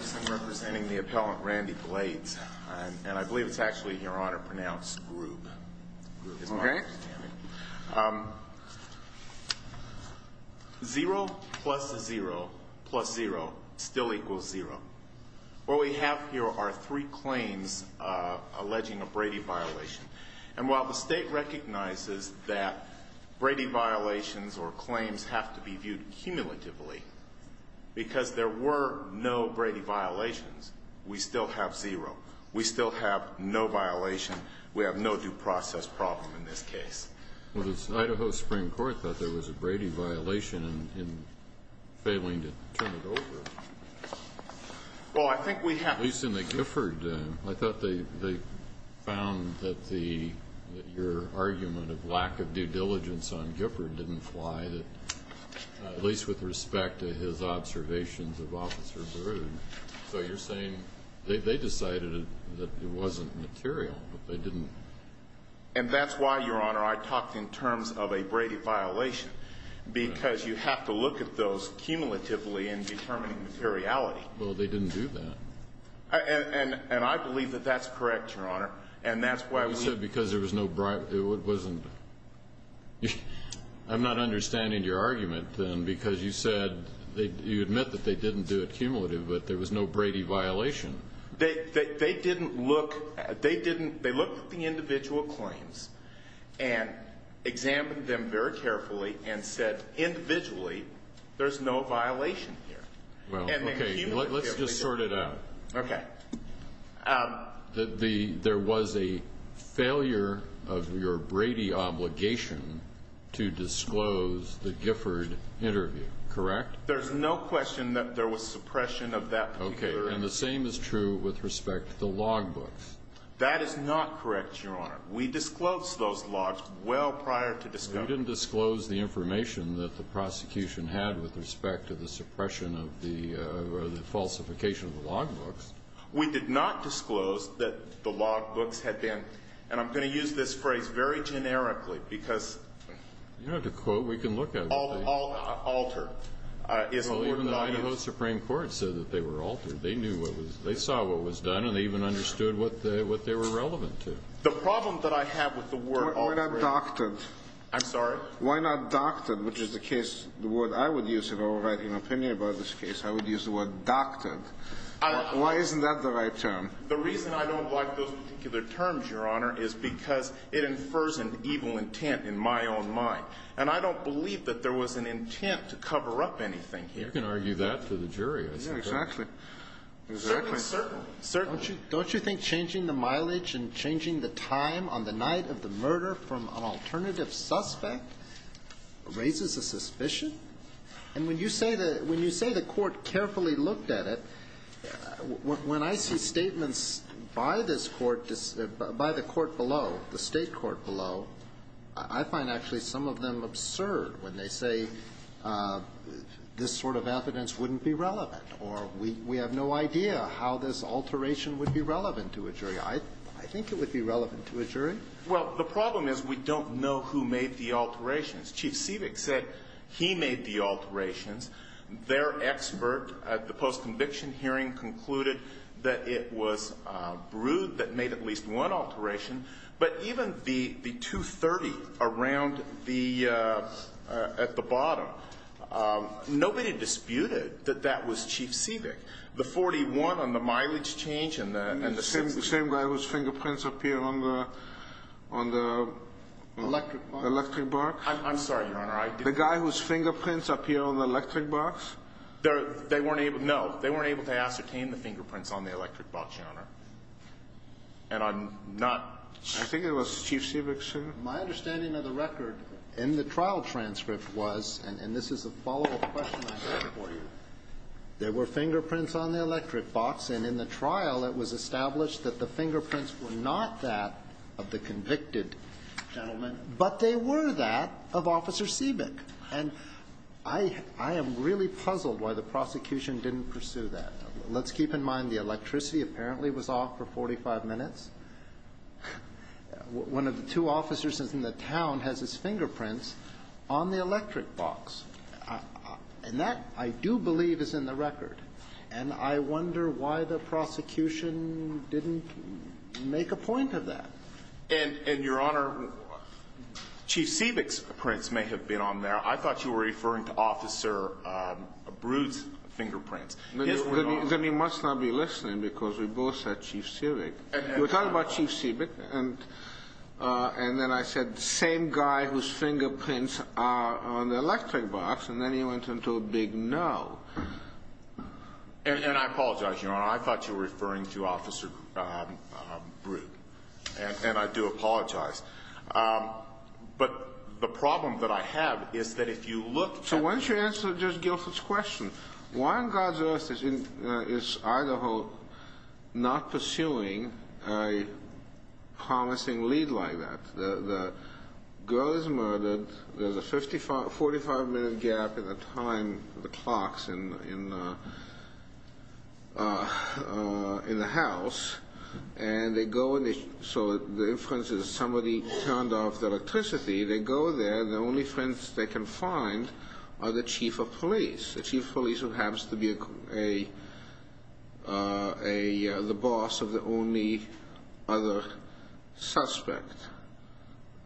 I'm representing the appellant, Randy Blades, and I believe it's actually in your honor to pronounce Grube. Okay. Zero plus zero plus zero still equals zero. What we have here are three claims alleging a Brady violation. And while the state recognizes that Brady violations or claims have to be viewed cumulatively, because there were no Brady violations, we still have zero. We still have no violation. We have no due process problem in this case. Well, the Idaho Supreme Court thought there was a Brady violation in failing to turn it over. Well, I think we have. At least in the Gifford, I thought they found that your argument of lack of due diligence on Gifford didn't fly, at least with respect to his observations of Officer Baroud. So you're saying they decided that it wasn't material, but they didn't? And that's why, Your Honor, I talked in terms of a Brady violation, because you have to look at those cumulatively in determining materiality. Well, they didn't do that. And I believe that that's correct, Your Honor. You said because there was no Brady violation. I'm not understanding your argument then, because you said you admit that they didn't do it cumulatively, but there was no Brady violation. They looked at the individual claims and examined them very carefully and said, individually, there's no violation here. Well, okay, let's just sort it out. Okay. There was a failure of your Brady obligation to disclose the Gifford interview, correct? There's no question that there was suppression of that particular interview. Okay. And the same is true with respect to the logbooks. That is not correct, Your Honor. We disclosed those logs well prior to discovery. We didn't disclose the information that the prosecution had with respect to the suppression of the falsification of the logbooks. We did not disclose that the logbooks had been, and I'm going to use this phrase very generically because You don't have to quote. We can look at it. Alter is the word that I use. Even the Idaho Supreme Court said that they were altered. They knew what was they saw what was done, and they even understood what they were relevant to. The problem that I have with the word alter is I'm sorry. Why not doctored, which is the case the word I would use if I were writing an opinion about this case. I would use the word doctored. Why isn't that the right term? The reason I don't like those particular terms, Your Honor, is because it infers an evil intent in my own mind, and I don't believe that there was an intent to cover up anything here. You can argue that to the jury. Exactly. Certainly. Certainly. Don't you think changing the mileage and changing the time on the night of the murder from an alternative suspect raises a suspicion? And when you say the court carefully looked at it, when I see statements by this court, by the court below, the State court below, I find actually some of them absurd when they say this sort of evidence wouldn't be relevant or we have no idea how this alteration would be relevant to a jury. I think it would be relevant to a jury. Well, the problem is we don't know who made the alterations. Chief Sivik said he made the alterations. Their expert at the post-conviction hearing concluded that it was Brood that made at least one alteration. But even the 230 around the at the bottom, nobody disputed that that was Chief Sivik. The 41 on the mileage change and the 60. The same guy whose fingerprints appear on the electric box? I'm sorry, Your Honor. The guy whose fingerprints appear on the electric box? They weren't able to. No. They weren't able to ascertain the fingerprints on the electric box, Your Honor. And I'm not. I think it was Chief Sivik, sir. My understanding of the record in the trial transcript was, and this is a follow-up question I have for you. There were fingerprints on the electric box, and in the trial it was established that the fingerprints were not that of the convicted gentleman, but they were that of Officer Sivik. And I am really puzzled why the prosecution didn't pursue that. Let's keep in mind the electricity apparently was off for 45 minutes. One of the two officers in the town has his fingerprints on the electric box. And that, I do believe, is in the record. And I wonder why the prosecution didn't make a point of that. And, Your Honor, Chief Sivik's prints may have been on there. I thought you were referring to Officer Brood's fingerprints. Then you must not be listening because we both said Chief Sivik. We're talking about Chief Sivik. And then I said, same guy whose fingerprints are on the electric box. And then he went into a big no. And I apologize, Your Honor. I thought you were referring to Officer Brood. And I do apologize. But the problem that I have is that if you look at the records. So why don't you answer Judge Gilford's question? Why on God's earth is Idaho not pursuing a promising lead like that? The girl is murdered. There's a 45-minute gap in the time, the clocks, in the house. And they go, so the inference is somebody turned off the electricity. They go there. The only friends they can find are the chief of police. The chief of police who happens to be the boss of the only other suspect.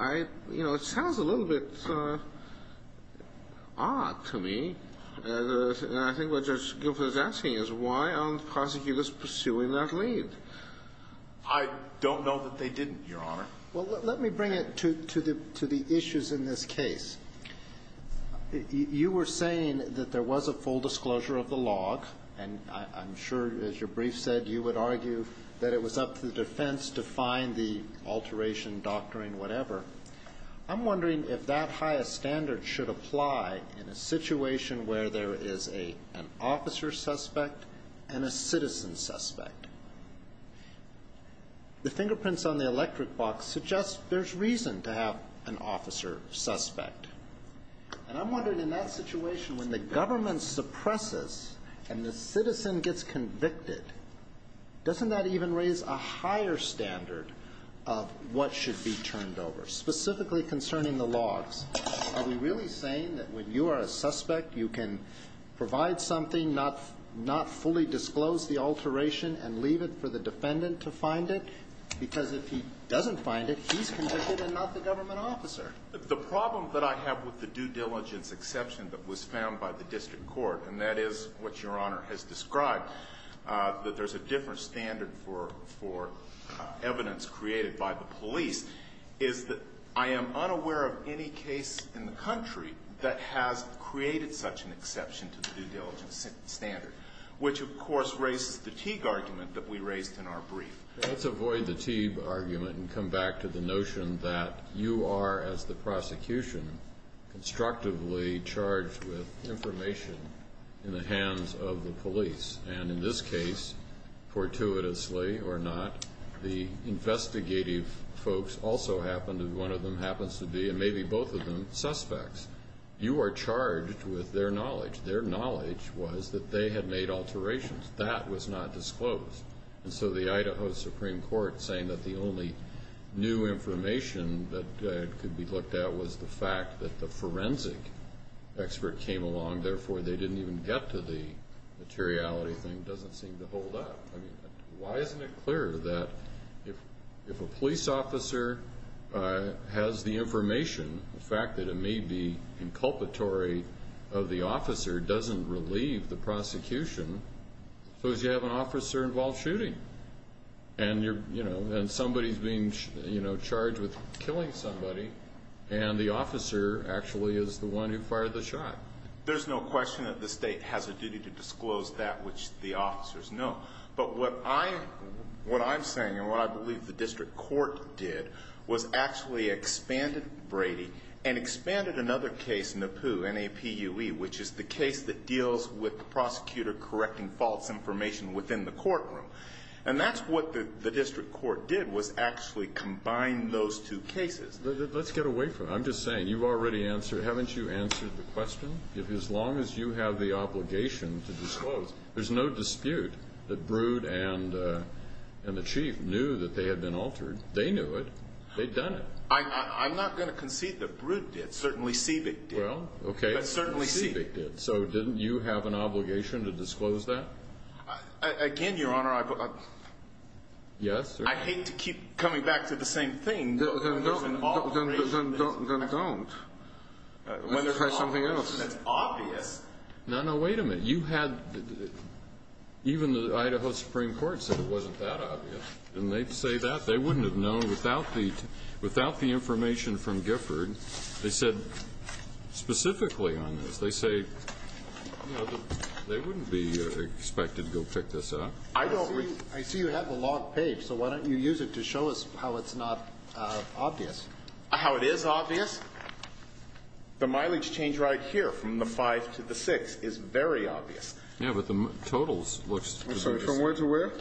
You know, it sounds a little bit odd to me. And I think what Judge Gilford is asking is why aren't prosecutors pursuing that lead? I don't know that they didn't, Your Honor. Well, let me bring it to the issues in this case. You were saying that there was a full disclosure of the log. And I'm sure, as your brief said, you would argue that it was up to the defense to find the alteration, doctoring, whatever. I'm wondering if that highest standard should apply in a situation where there is an officer suspect and a citizen suspect. The fingerprints on the electric box suggest there's reason to have an officer suspect. And I'm wondering, in that situation, when the government suppresses and the citizen gets convicted, doesn't that even raise a higher standard of what should be turned over, specifically concerning the logs? Are we really saying that when you are a suspect you can provide something, not fully disclose the alteration and leave it for the defendant to find it? Because if he doesn't find it, he's convicted and not the government officer. The problem that I have with the due diligence exception that was found by the district court, and that is what Your Honor has described, that there's a different standard for evidence created by the police, is that I am unaware of any case in the country that has created such an exception to the due diligence standard, which, of course, raises the Teague argument that we raised in our brief. Let's avoid the Teague argument and come back to the notion that you are, as the prosecution, constructively charged with information in the hands of the police. And in this case, fortuitously or not, the investigative folks also happen to be, one of them happens to be, and maybe both of them, suspects. You are charged with their knowledge. Their knowledge was that they had made alterations. That was not disclosed. And so the Idaho Supreme Court saying that the only new information that could be looked at was the fact that the forensic expert came along, therefore they didn't even get to the materiality thing doesn't seem to hold up. Why isn't it clear that if a police officer has the information, the fact that it may be inculpatory of the officer doesn't relieve the prosecution because you have an officer-involved shooting. And somebody is being charged with killing somebody, and the officer actually is the one who fired the shot. There's no question that the state has a duty to disclose that which the officers know. But what I'm saying and what I believe the district court did was actually expanded Brady and expanded another case, Napu, N-A-P-U-E, which is the case that deals with the prosecutor correcting false information within the courtroom. And that's what the district court did was actually combine those two cases. Let's get away from it. I'm just saying you've already answered. Haven't you answered the question? As long as you have the obligation to disclose, there's no dispute that Brood and the chief knew that they had been altered. They knew it. They'd done it. I'm not going to concede that Brood did. Certainly, Seabig did. Well, okay. But certainly, Seabig did. So didn't you have an obligation to disclose that? Again, Your Honor, I hate to keep coming back to the same thing. Then don't. Let's try something else. That's obvious. No, no, wait a minute. You had even the Idaho Supreme Court said it wasn't that obvious. Didn't they say that? They wouldn't have known without the information from Gifford. They said specifically on this. They say, you know, they wouldn't be expected to go pick this up. I see you have the log page, so why don't you use it to show us how it's not obvious. How it is obvious? The mileage change right here from the 5 to the 6 is very obvious. Yeah, but the totals looks to be just as obvious. From where to where?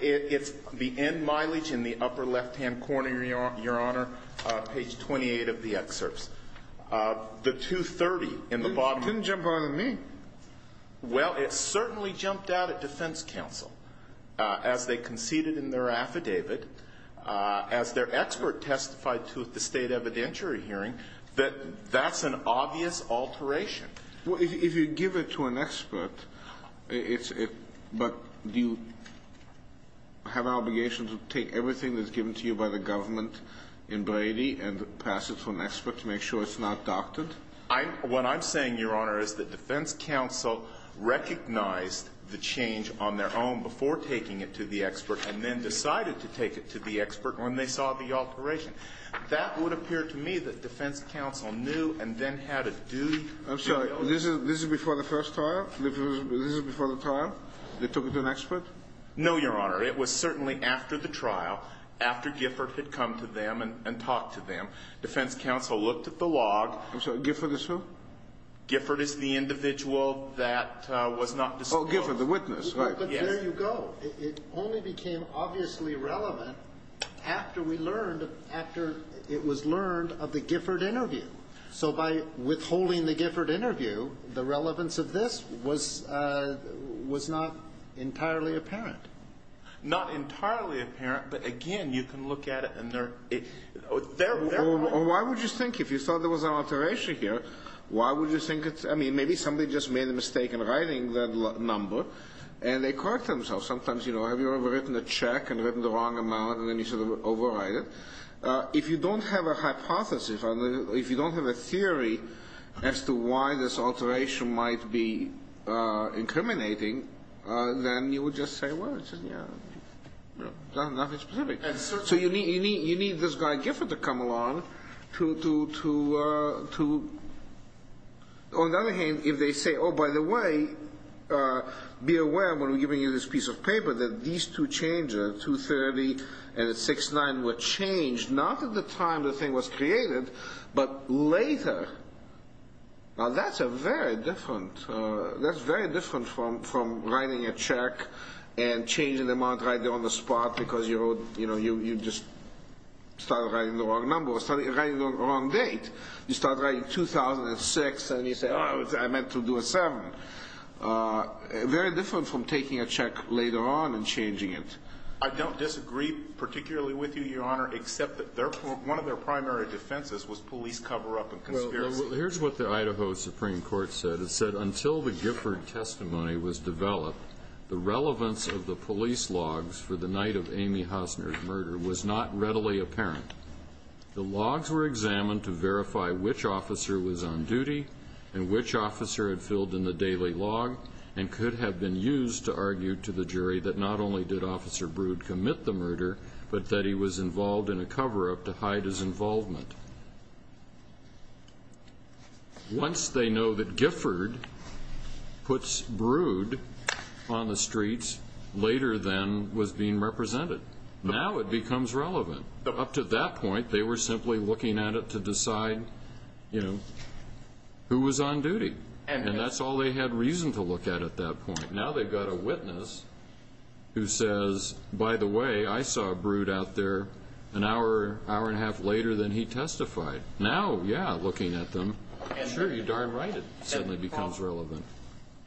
It's the end mileage in the upper left-hand corner, Your Honor, page 28 of the excerpts. The 230 in the bottom. It didn't jump out at me. Well, it certainly jumped out at defense counsel as they conceded in their affidavit, as their expert testified to at the State evidentiary hearing, that that's an obvious alteration. Well, if you give it to an expert, but do you have an obligation to take everything that's given to you by the government in Brady and pass it to an expert to make sure it's not doctored? What I'm saying, Your Honor, is that defense counsel recognized the change on their own before taking it to the expert and then decided to take it to the expert when they saw the alteration. That would appear to me that defense counsel knew and then had a duty. I'm sorry. This is before the first trial? This is before the trial? They took it to an expert? No, Your Honor. It was certainly after the trial, after Gifford had come to them and talked to them. Defense counsel looked at the log. I'm sorry. Gifford is who? Gifford is the individual that was not disclosed. Oh, Gifford, the witness, right. Yes. But there you go. It only became obviously relevant after we learned, after it was learned of the Gifford interview. So by withholding the Gifford interview, the relevance of this was not entirely apparent. Not entirely apparent, but, again, you can look at it, and there are other reasons. Why would you think, if you thought there was an alteration here, why would you think it's – I mean, maybe somebody just made a mistake in writing that number, and they correct themselves. Sometimes, you know, have you ever written a check and written the wrong amount and then you sort of overwrite it? If you don't have a hypothesis, if you don't have a theory as to why this alteration might be incriminating, then you would just say, well, it's nothing specific. So you need this guy Gifford to come along to – on the other hand, if they say, oh, by the way, be aware when we're giving you this piece of paper that these two changes, 230 and 6-9, were changed not at the time the thing was created, but later. Now, that's a very different – that's very different from writing a check and changing the amount right there on the spot because you wrote – you know, you just started writing the wrong number or started writing the wrong date. You start writing 2006, and you say, oh, I meant to do a 7. Very different from taking a check later on and changing it. I don't disagree particularly with you, Your Honor, except that one of their primary defenses was police cover-up and conspiracy. Well, here's what the Idaho Supreme Court said. It said, until the Gifford testimony was developed, the relevance of the police logs for the night of Amy Hosner's murder was not readily apparent. The logs were examined to verify which officer was on duty and which officer had filled in the daily log and could have been used to argue to the jury that not only did Officer Brood commit the murder, but that he was involved in a cover-up to hide his involvement. Once they know that Gifford puts Brood on the streets later than was being represented, now it becomes relevant. Up to that point, they were simply looking at it to decide, you know, who was on duty. And that's all they had reason to look at at that point. Now they've got a witness who says, by the way, I saw Brood out there an hour, hour and a half later than he testified. Now, yeah, looking at them, sure, you're darn right it suddenly becomes relevant.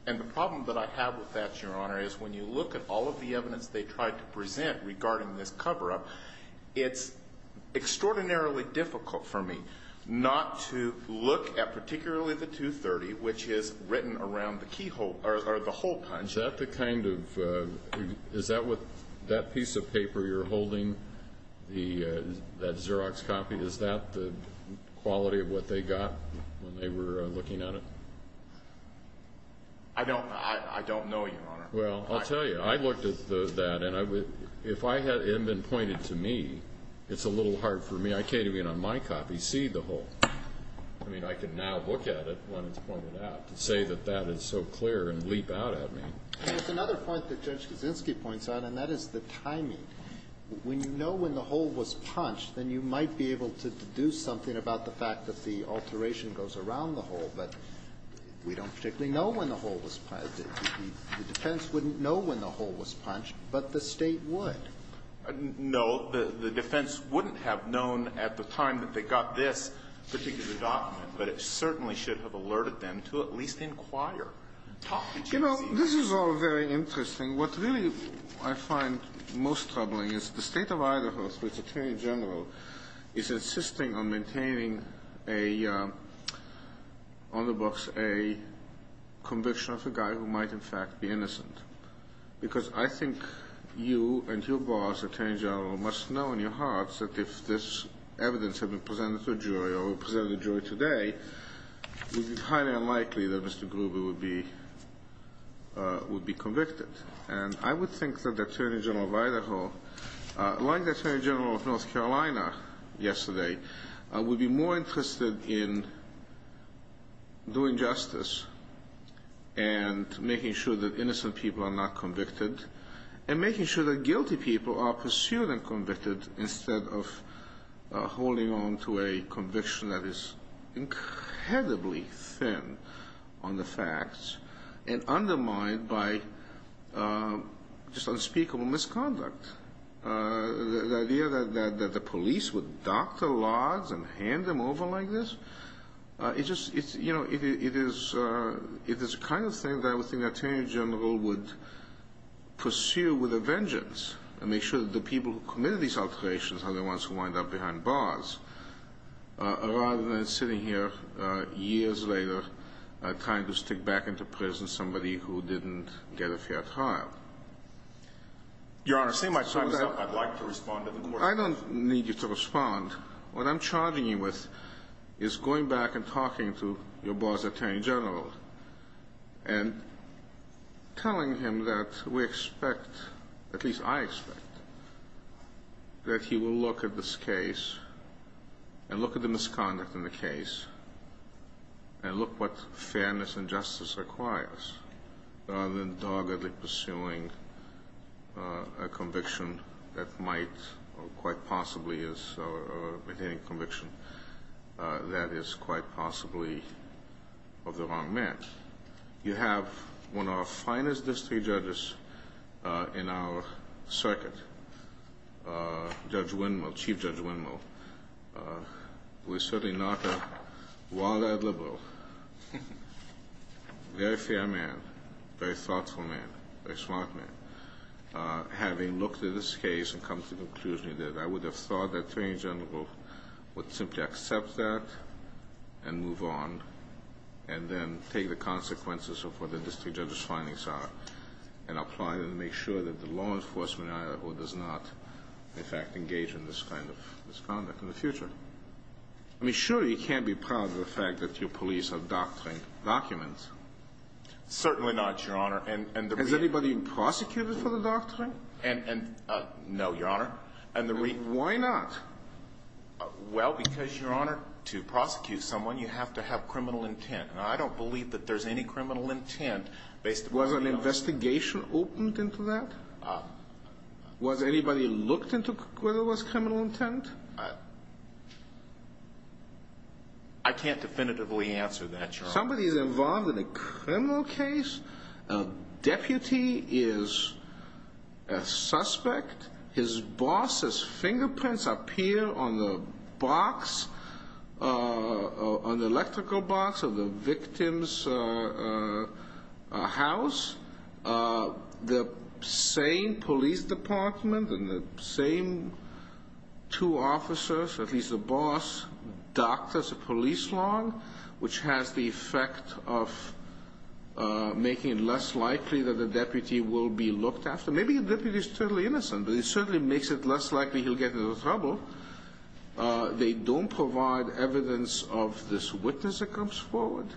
And the problem that I have with that, Your Honor, is when you look at all of the evidence they tried to present regarding this cover-up, it's extraordinarily difficult for me not to look at particularly the 230, which is written around the keyhole or the hole punch. Is that the kind of – is that piece of paper you're holding, that Xerox copy, is that the quality of what they got when they were looking at it? Well, I'll tell you. I looked at that, and if it had been pointed to me, it's a little hard for me. I can't even on my copy see the hole. I mean, I can now look at it when it's pointed out to say that that is so clear and leap out at me. There's another point that Judge Kaczynski points out, and that is the timing. When you know when the hole was punched, then you might be able to deduce something about the fact that the alteration goes around the hole. But we don't particularly know when the hole was punched. The defense wouldn't know when the hole was punched, but the State would. No. The defense wouldn't have known at the time that they got this particular document, but it certainly should have alerted them to at least inquire. Talk to Judge Kaczynski. You know, this is all very interesting. What really I find most troubling is the State of Idaho, through its attorney general, is insisting on maintaining on the books a conviction of a guy who might, in fact, be innocent. Because I think you and your boss, attorney general, must know in your hearts that if this evidence had been presented to a jury or presented to a jury today, it would be highly unlikely that Mr. Gruber would be convicted. And I would think that the attorney general of Idaho, like the attorney general of North Carolina yesterday, would be more interested in doing justice and making sure that innocent people are not convicted and making sure that guilty people are pursued and convicted instead of holding on to a conviction that is incredibly thin on the facts and undermined by just unspeakable misconduct. The idea that the police would dock the laws and hand them over like this, it's just, you know, it is the kind of thing that I would think the attorney general would pursue with a vengeance and make sure that the people who committed these alterations are the ones who wind up behind bars rather than sitting here years later trying to stick back into prison somebody who didn't get a fair trial. Your Honor, seeing my time is up, I'd like to respond to the question. I don't need you to respond. What I'm charging you with is going back and talking to your boss, attorney general, and telling him that we expect, at least I expect, that he will look at this case and look at the misconduct in the case and look what fairness and justice requires rather than doggedly pursuing a conviction that might or quite possibly is, or maintaining a conviction that is quite possibly of the wrong man. You have one of our finest district judges in our circuit, Judge Windmill, Chief Judge Windmill, who is certainly not a wild-eyed liberal, very fair man, very thoughtful man, very smart man, having looked at this case and come to the conclusion that I would have thought that the attorney general would simply accept that and move on and then take the consequences of what the district judge's findings are and apply them to make sure that the law enforcement does not, in fact, engage in this kind of misconduct in the future. I mean, surely he can't be proud of the fact that your police have documents. Certainly not, Your Honor. Has anybody been prosecuted for the doctrine? No, Your Honor. Why not? Well, because, Your Honor, to prosecute someone, you have to have criminal intent, and I don't believe that there's any criminal intent based upon any of us. Was an investigation opened into that? Was anybody looked into whether it was criminal intent? I can't definitively answer that, Your Honor. Somebody is involved in a criminal case. A deputy is a suspect. His boss's fingerprints appear on the box, on the electrical box of the victim's house. The same police department and the same two officers, at least the boss, doctors, the police law, which has the effect of making it less likely that the deputy will be looked after. Maybe the deputy is totally innocent, but it certainly makes it less likely he'll get into trouble. They don't provide evidence of this witness that comes forward.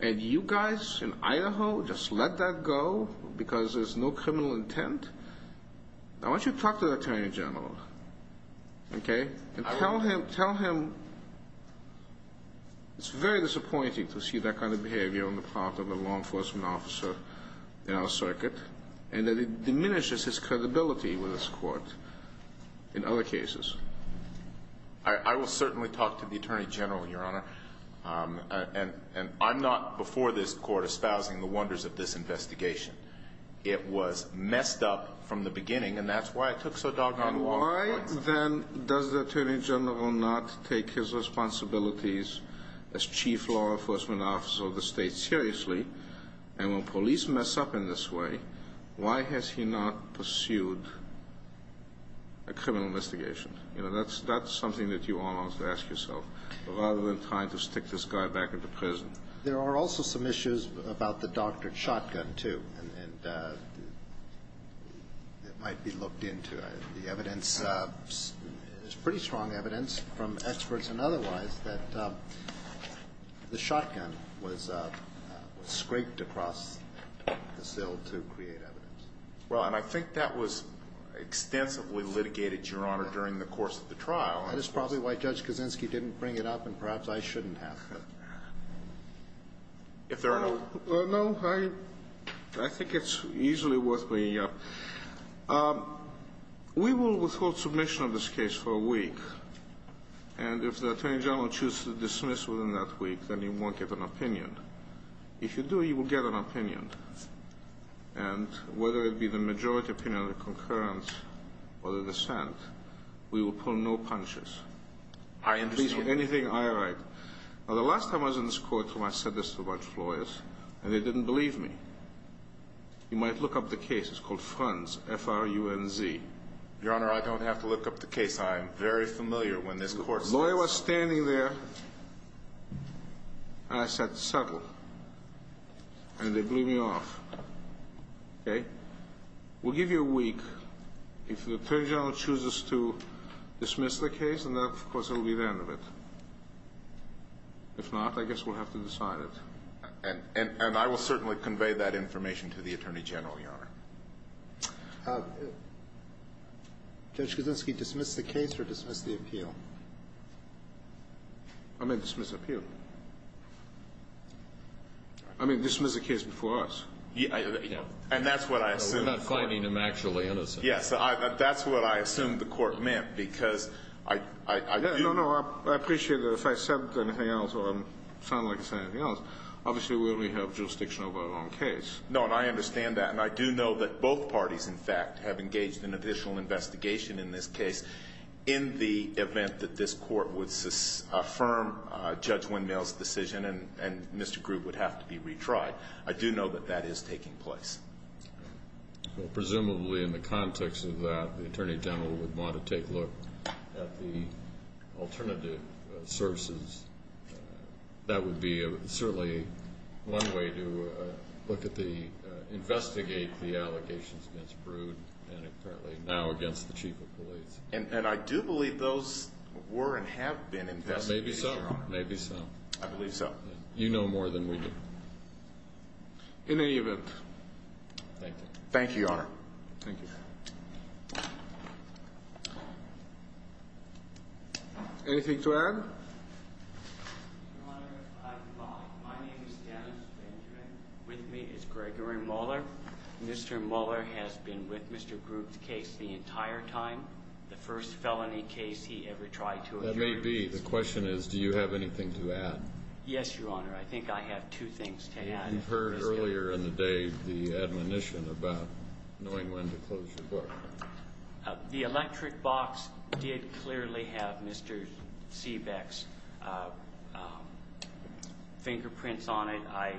And you guys in Idaho just let that go because there's no criminal intent? I want you to talk to the attorney general, okay? And tell him it's very disappointing to see that kind of behavior on the part of a law enforcement officer in our circuit and that it diminishes his credibility with this court in other cases. I will certainly talk to the attorney general, Your Honor. And I'm not before this court espousing the wonders of this investigation. It was messed up from the beginning, and that's why it took so doggone long. Why, then, does the attorney general not take his responsibilities as chief law enforcement officer of the state seriously? And when police mess up in this way, why has he not pursued a criminal investigation? You know, that's something that you all ought to ask yourself rather than trying to stick this guy back into prison. There are also some issues about the doctored shotgun, too. And it might be looked into. The evidence is pretty strong evidence from experts and otherwise that the shotgun was scraped across the sill to create evidence. Well, and I think that was extensively litigated, Your Honor, during the course of the trial. That is probably why Judge Kaczynski didn't bring it up, and perhaps I shouldn't have. If there are no other questions. No. I think it's easily worth bringing up. We will withhold submission of this case for a week, and if the attorney general chooses to dismiss within that week, then he won't get an opinion. If you do, you will get an opinion. And whether it be the majority opinion or the concurrence or the dissent, we will I understand. Please, for anything I write. Now, the last time I was in this court when I said this to a bunch of lawyers, and they didn't believe me. You might look up the case. It's called Franz, F-R-U-N-Z. Your Honor, I don't have to look up the case. I am very familiar when this court says so. The lawyer was standing there, and I said, settle. And they blew me off. Okay? We'll give you a week. If the attorney general chooses to dismiss the case, then, of course, it will be the end of it. If not, I guess we'll have to decide it. And I will certainly convey that information to the attorney general, Your Honor. Judge Kuczynski, dismiss the case or dismiss the appeal? I may dismiss the appeal. I may dismiss the case before us. And that's what I assume. We're not finding him actually innocent. Yes. That's what I assume the court meant because I do. No, no. I appreciate that. If I said anything else or sound like I said anything else, obviously we only have jurisdiction over our own case. No, and I understand that, and I do know that both parties, in fact, have engaged in official investigation in this case in the event that this court would affirm Judge Windmill's decision and Mr. Grubb would have to be retried. I do know that that is taking place. Well, presumably in the context of that, the attorney general would want to take a look at the alternative sources. That would be certainly one way to look at the – investigate the allegations against Brood and apparently now against the chief of police. And I do believe those were and have been investigated, Your Honor. Maybe so. Maybe so. I believe so. You know more than we do. In any event, thank you. Thank you, Your Honor. Thank you. Anything to add? Your Honor, my name is Dennis Benjamin. With me is Gregory Muller. Mr. Muller has been with Mr. Grubb's case the entire time, the first felony case he ever tried to address. That may be. The question is do you have anything to add? Yes, Your Honor. I think I have two things to add. You heard earlier in the day the admonition about knowing when to close your book. The electric box did clearly have Mr. Seebeck's fingerprints on it. I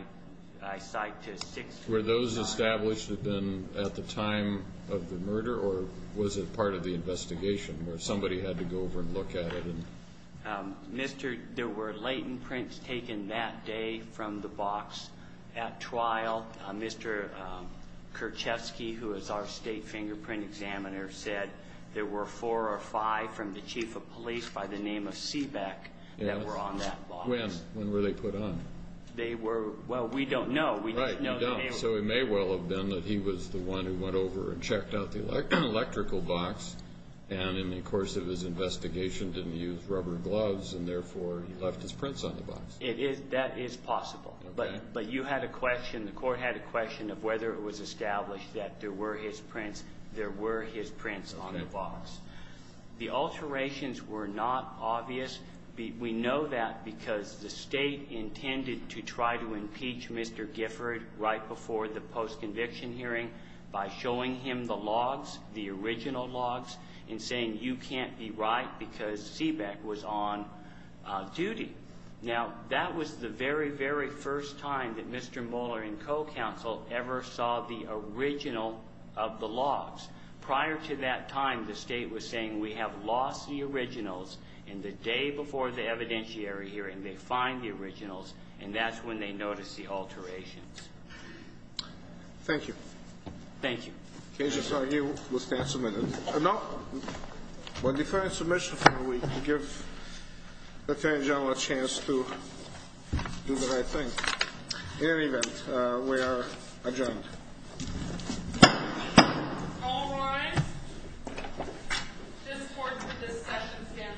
cite to 625. Were those established at the time of the murder or was it part of the investigation where somebody had to go over and look at it? There were latent prints taken that day from the box at trial. Mr. Kerchevsky, who is our state fingerprint examiner, said there were four or five from the chief of police by the name of Seebeck that were on that box. When were they put on? Well, we don't know. Right, we don't. So it may well have been that he was the one who went over and checked out the electrical box and in the course of his investigation didn't use rubber gloves and therefore he left his prints on the box. That is possible. But you had a question, the court had a question of whether it was established that there were his prints. There were his prints on the box. The alterations were not obvious. We know that because the state intended to try to impeach Mr. Gifford right before the post-conviction hearing by showing him the logs, the original logs, and saying you can't be right because Seebeck was on duty. Now, that was the very, very first time that Mr. Moeller and co-counsel ever saw the original of the logs. Prior to that time, the state was saying we have lost the originals, and the day before the evidentiary hearing they find the originals, and that's when they notice the alterations. Thank you. Thank you. Okay, just argue, we'll stand for a minute. No, we'll defer our submission for a week to give the Attorney General a chance to do the right thing. In any event, we are adjourned. All rise. This court's discussion stands adjourned.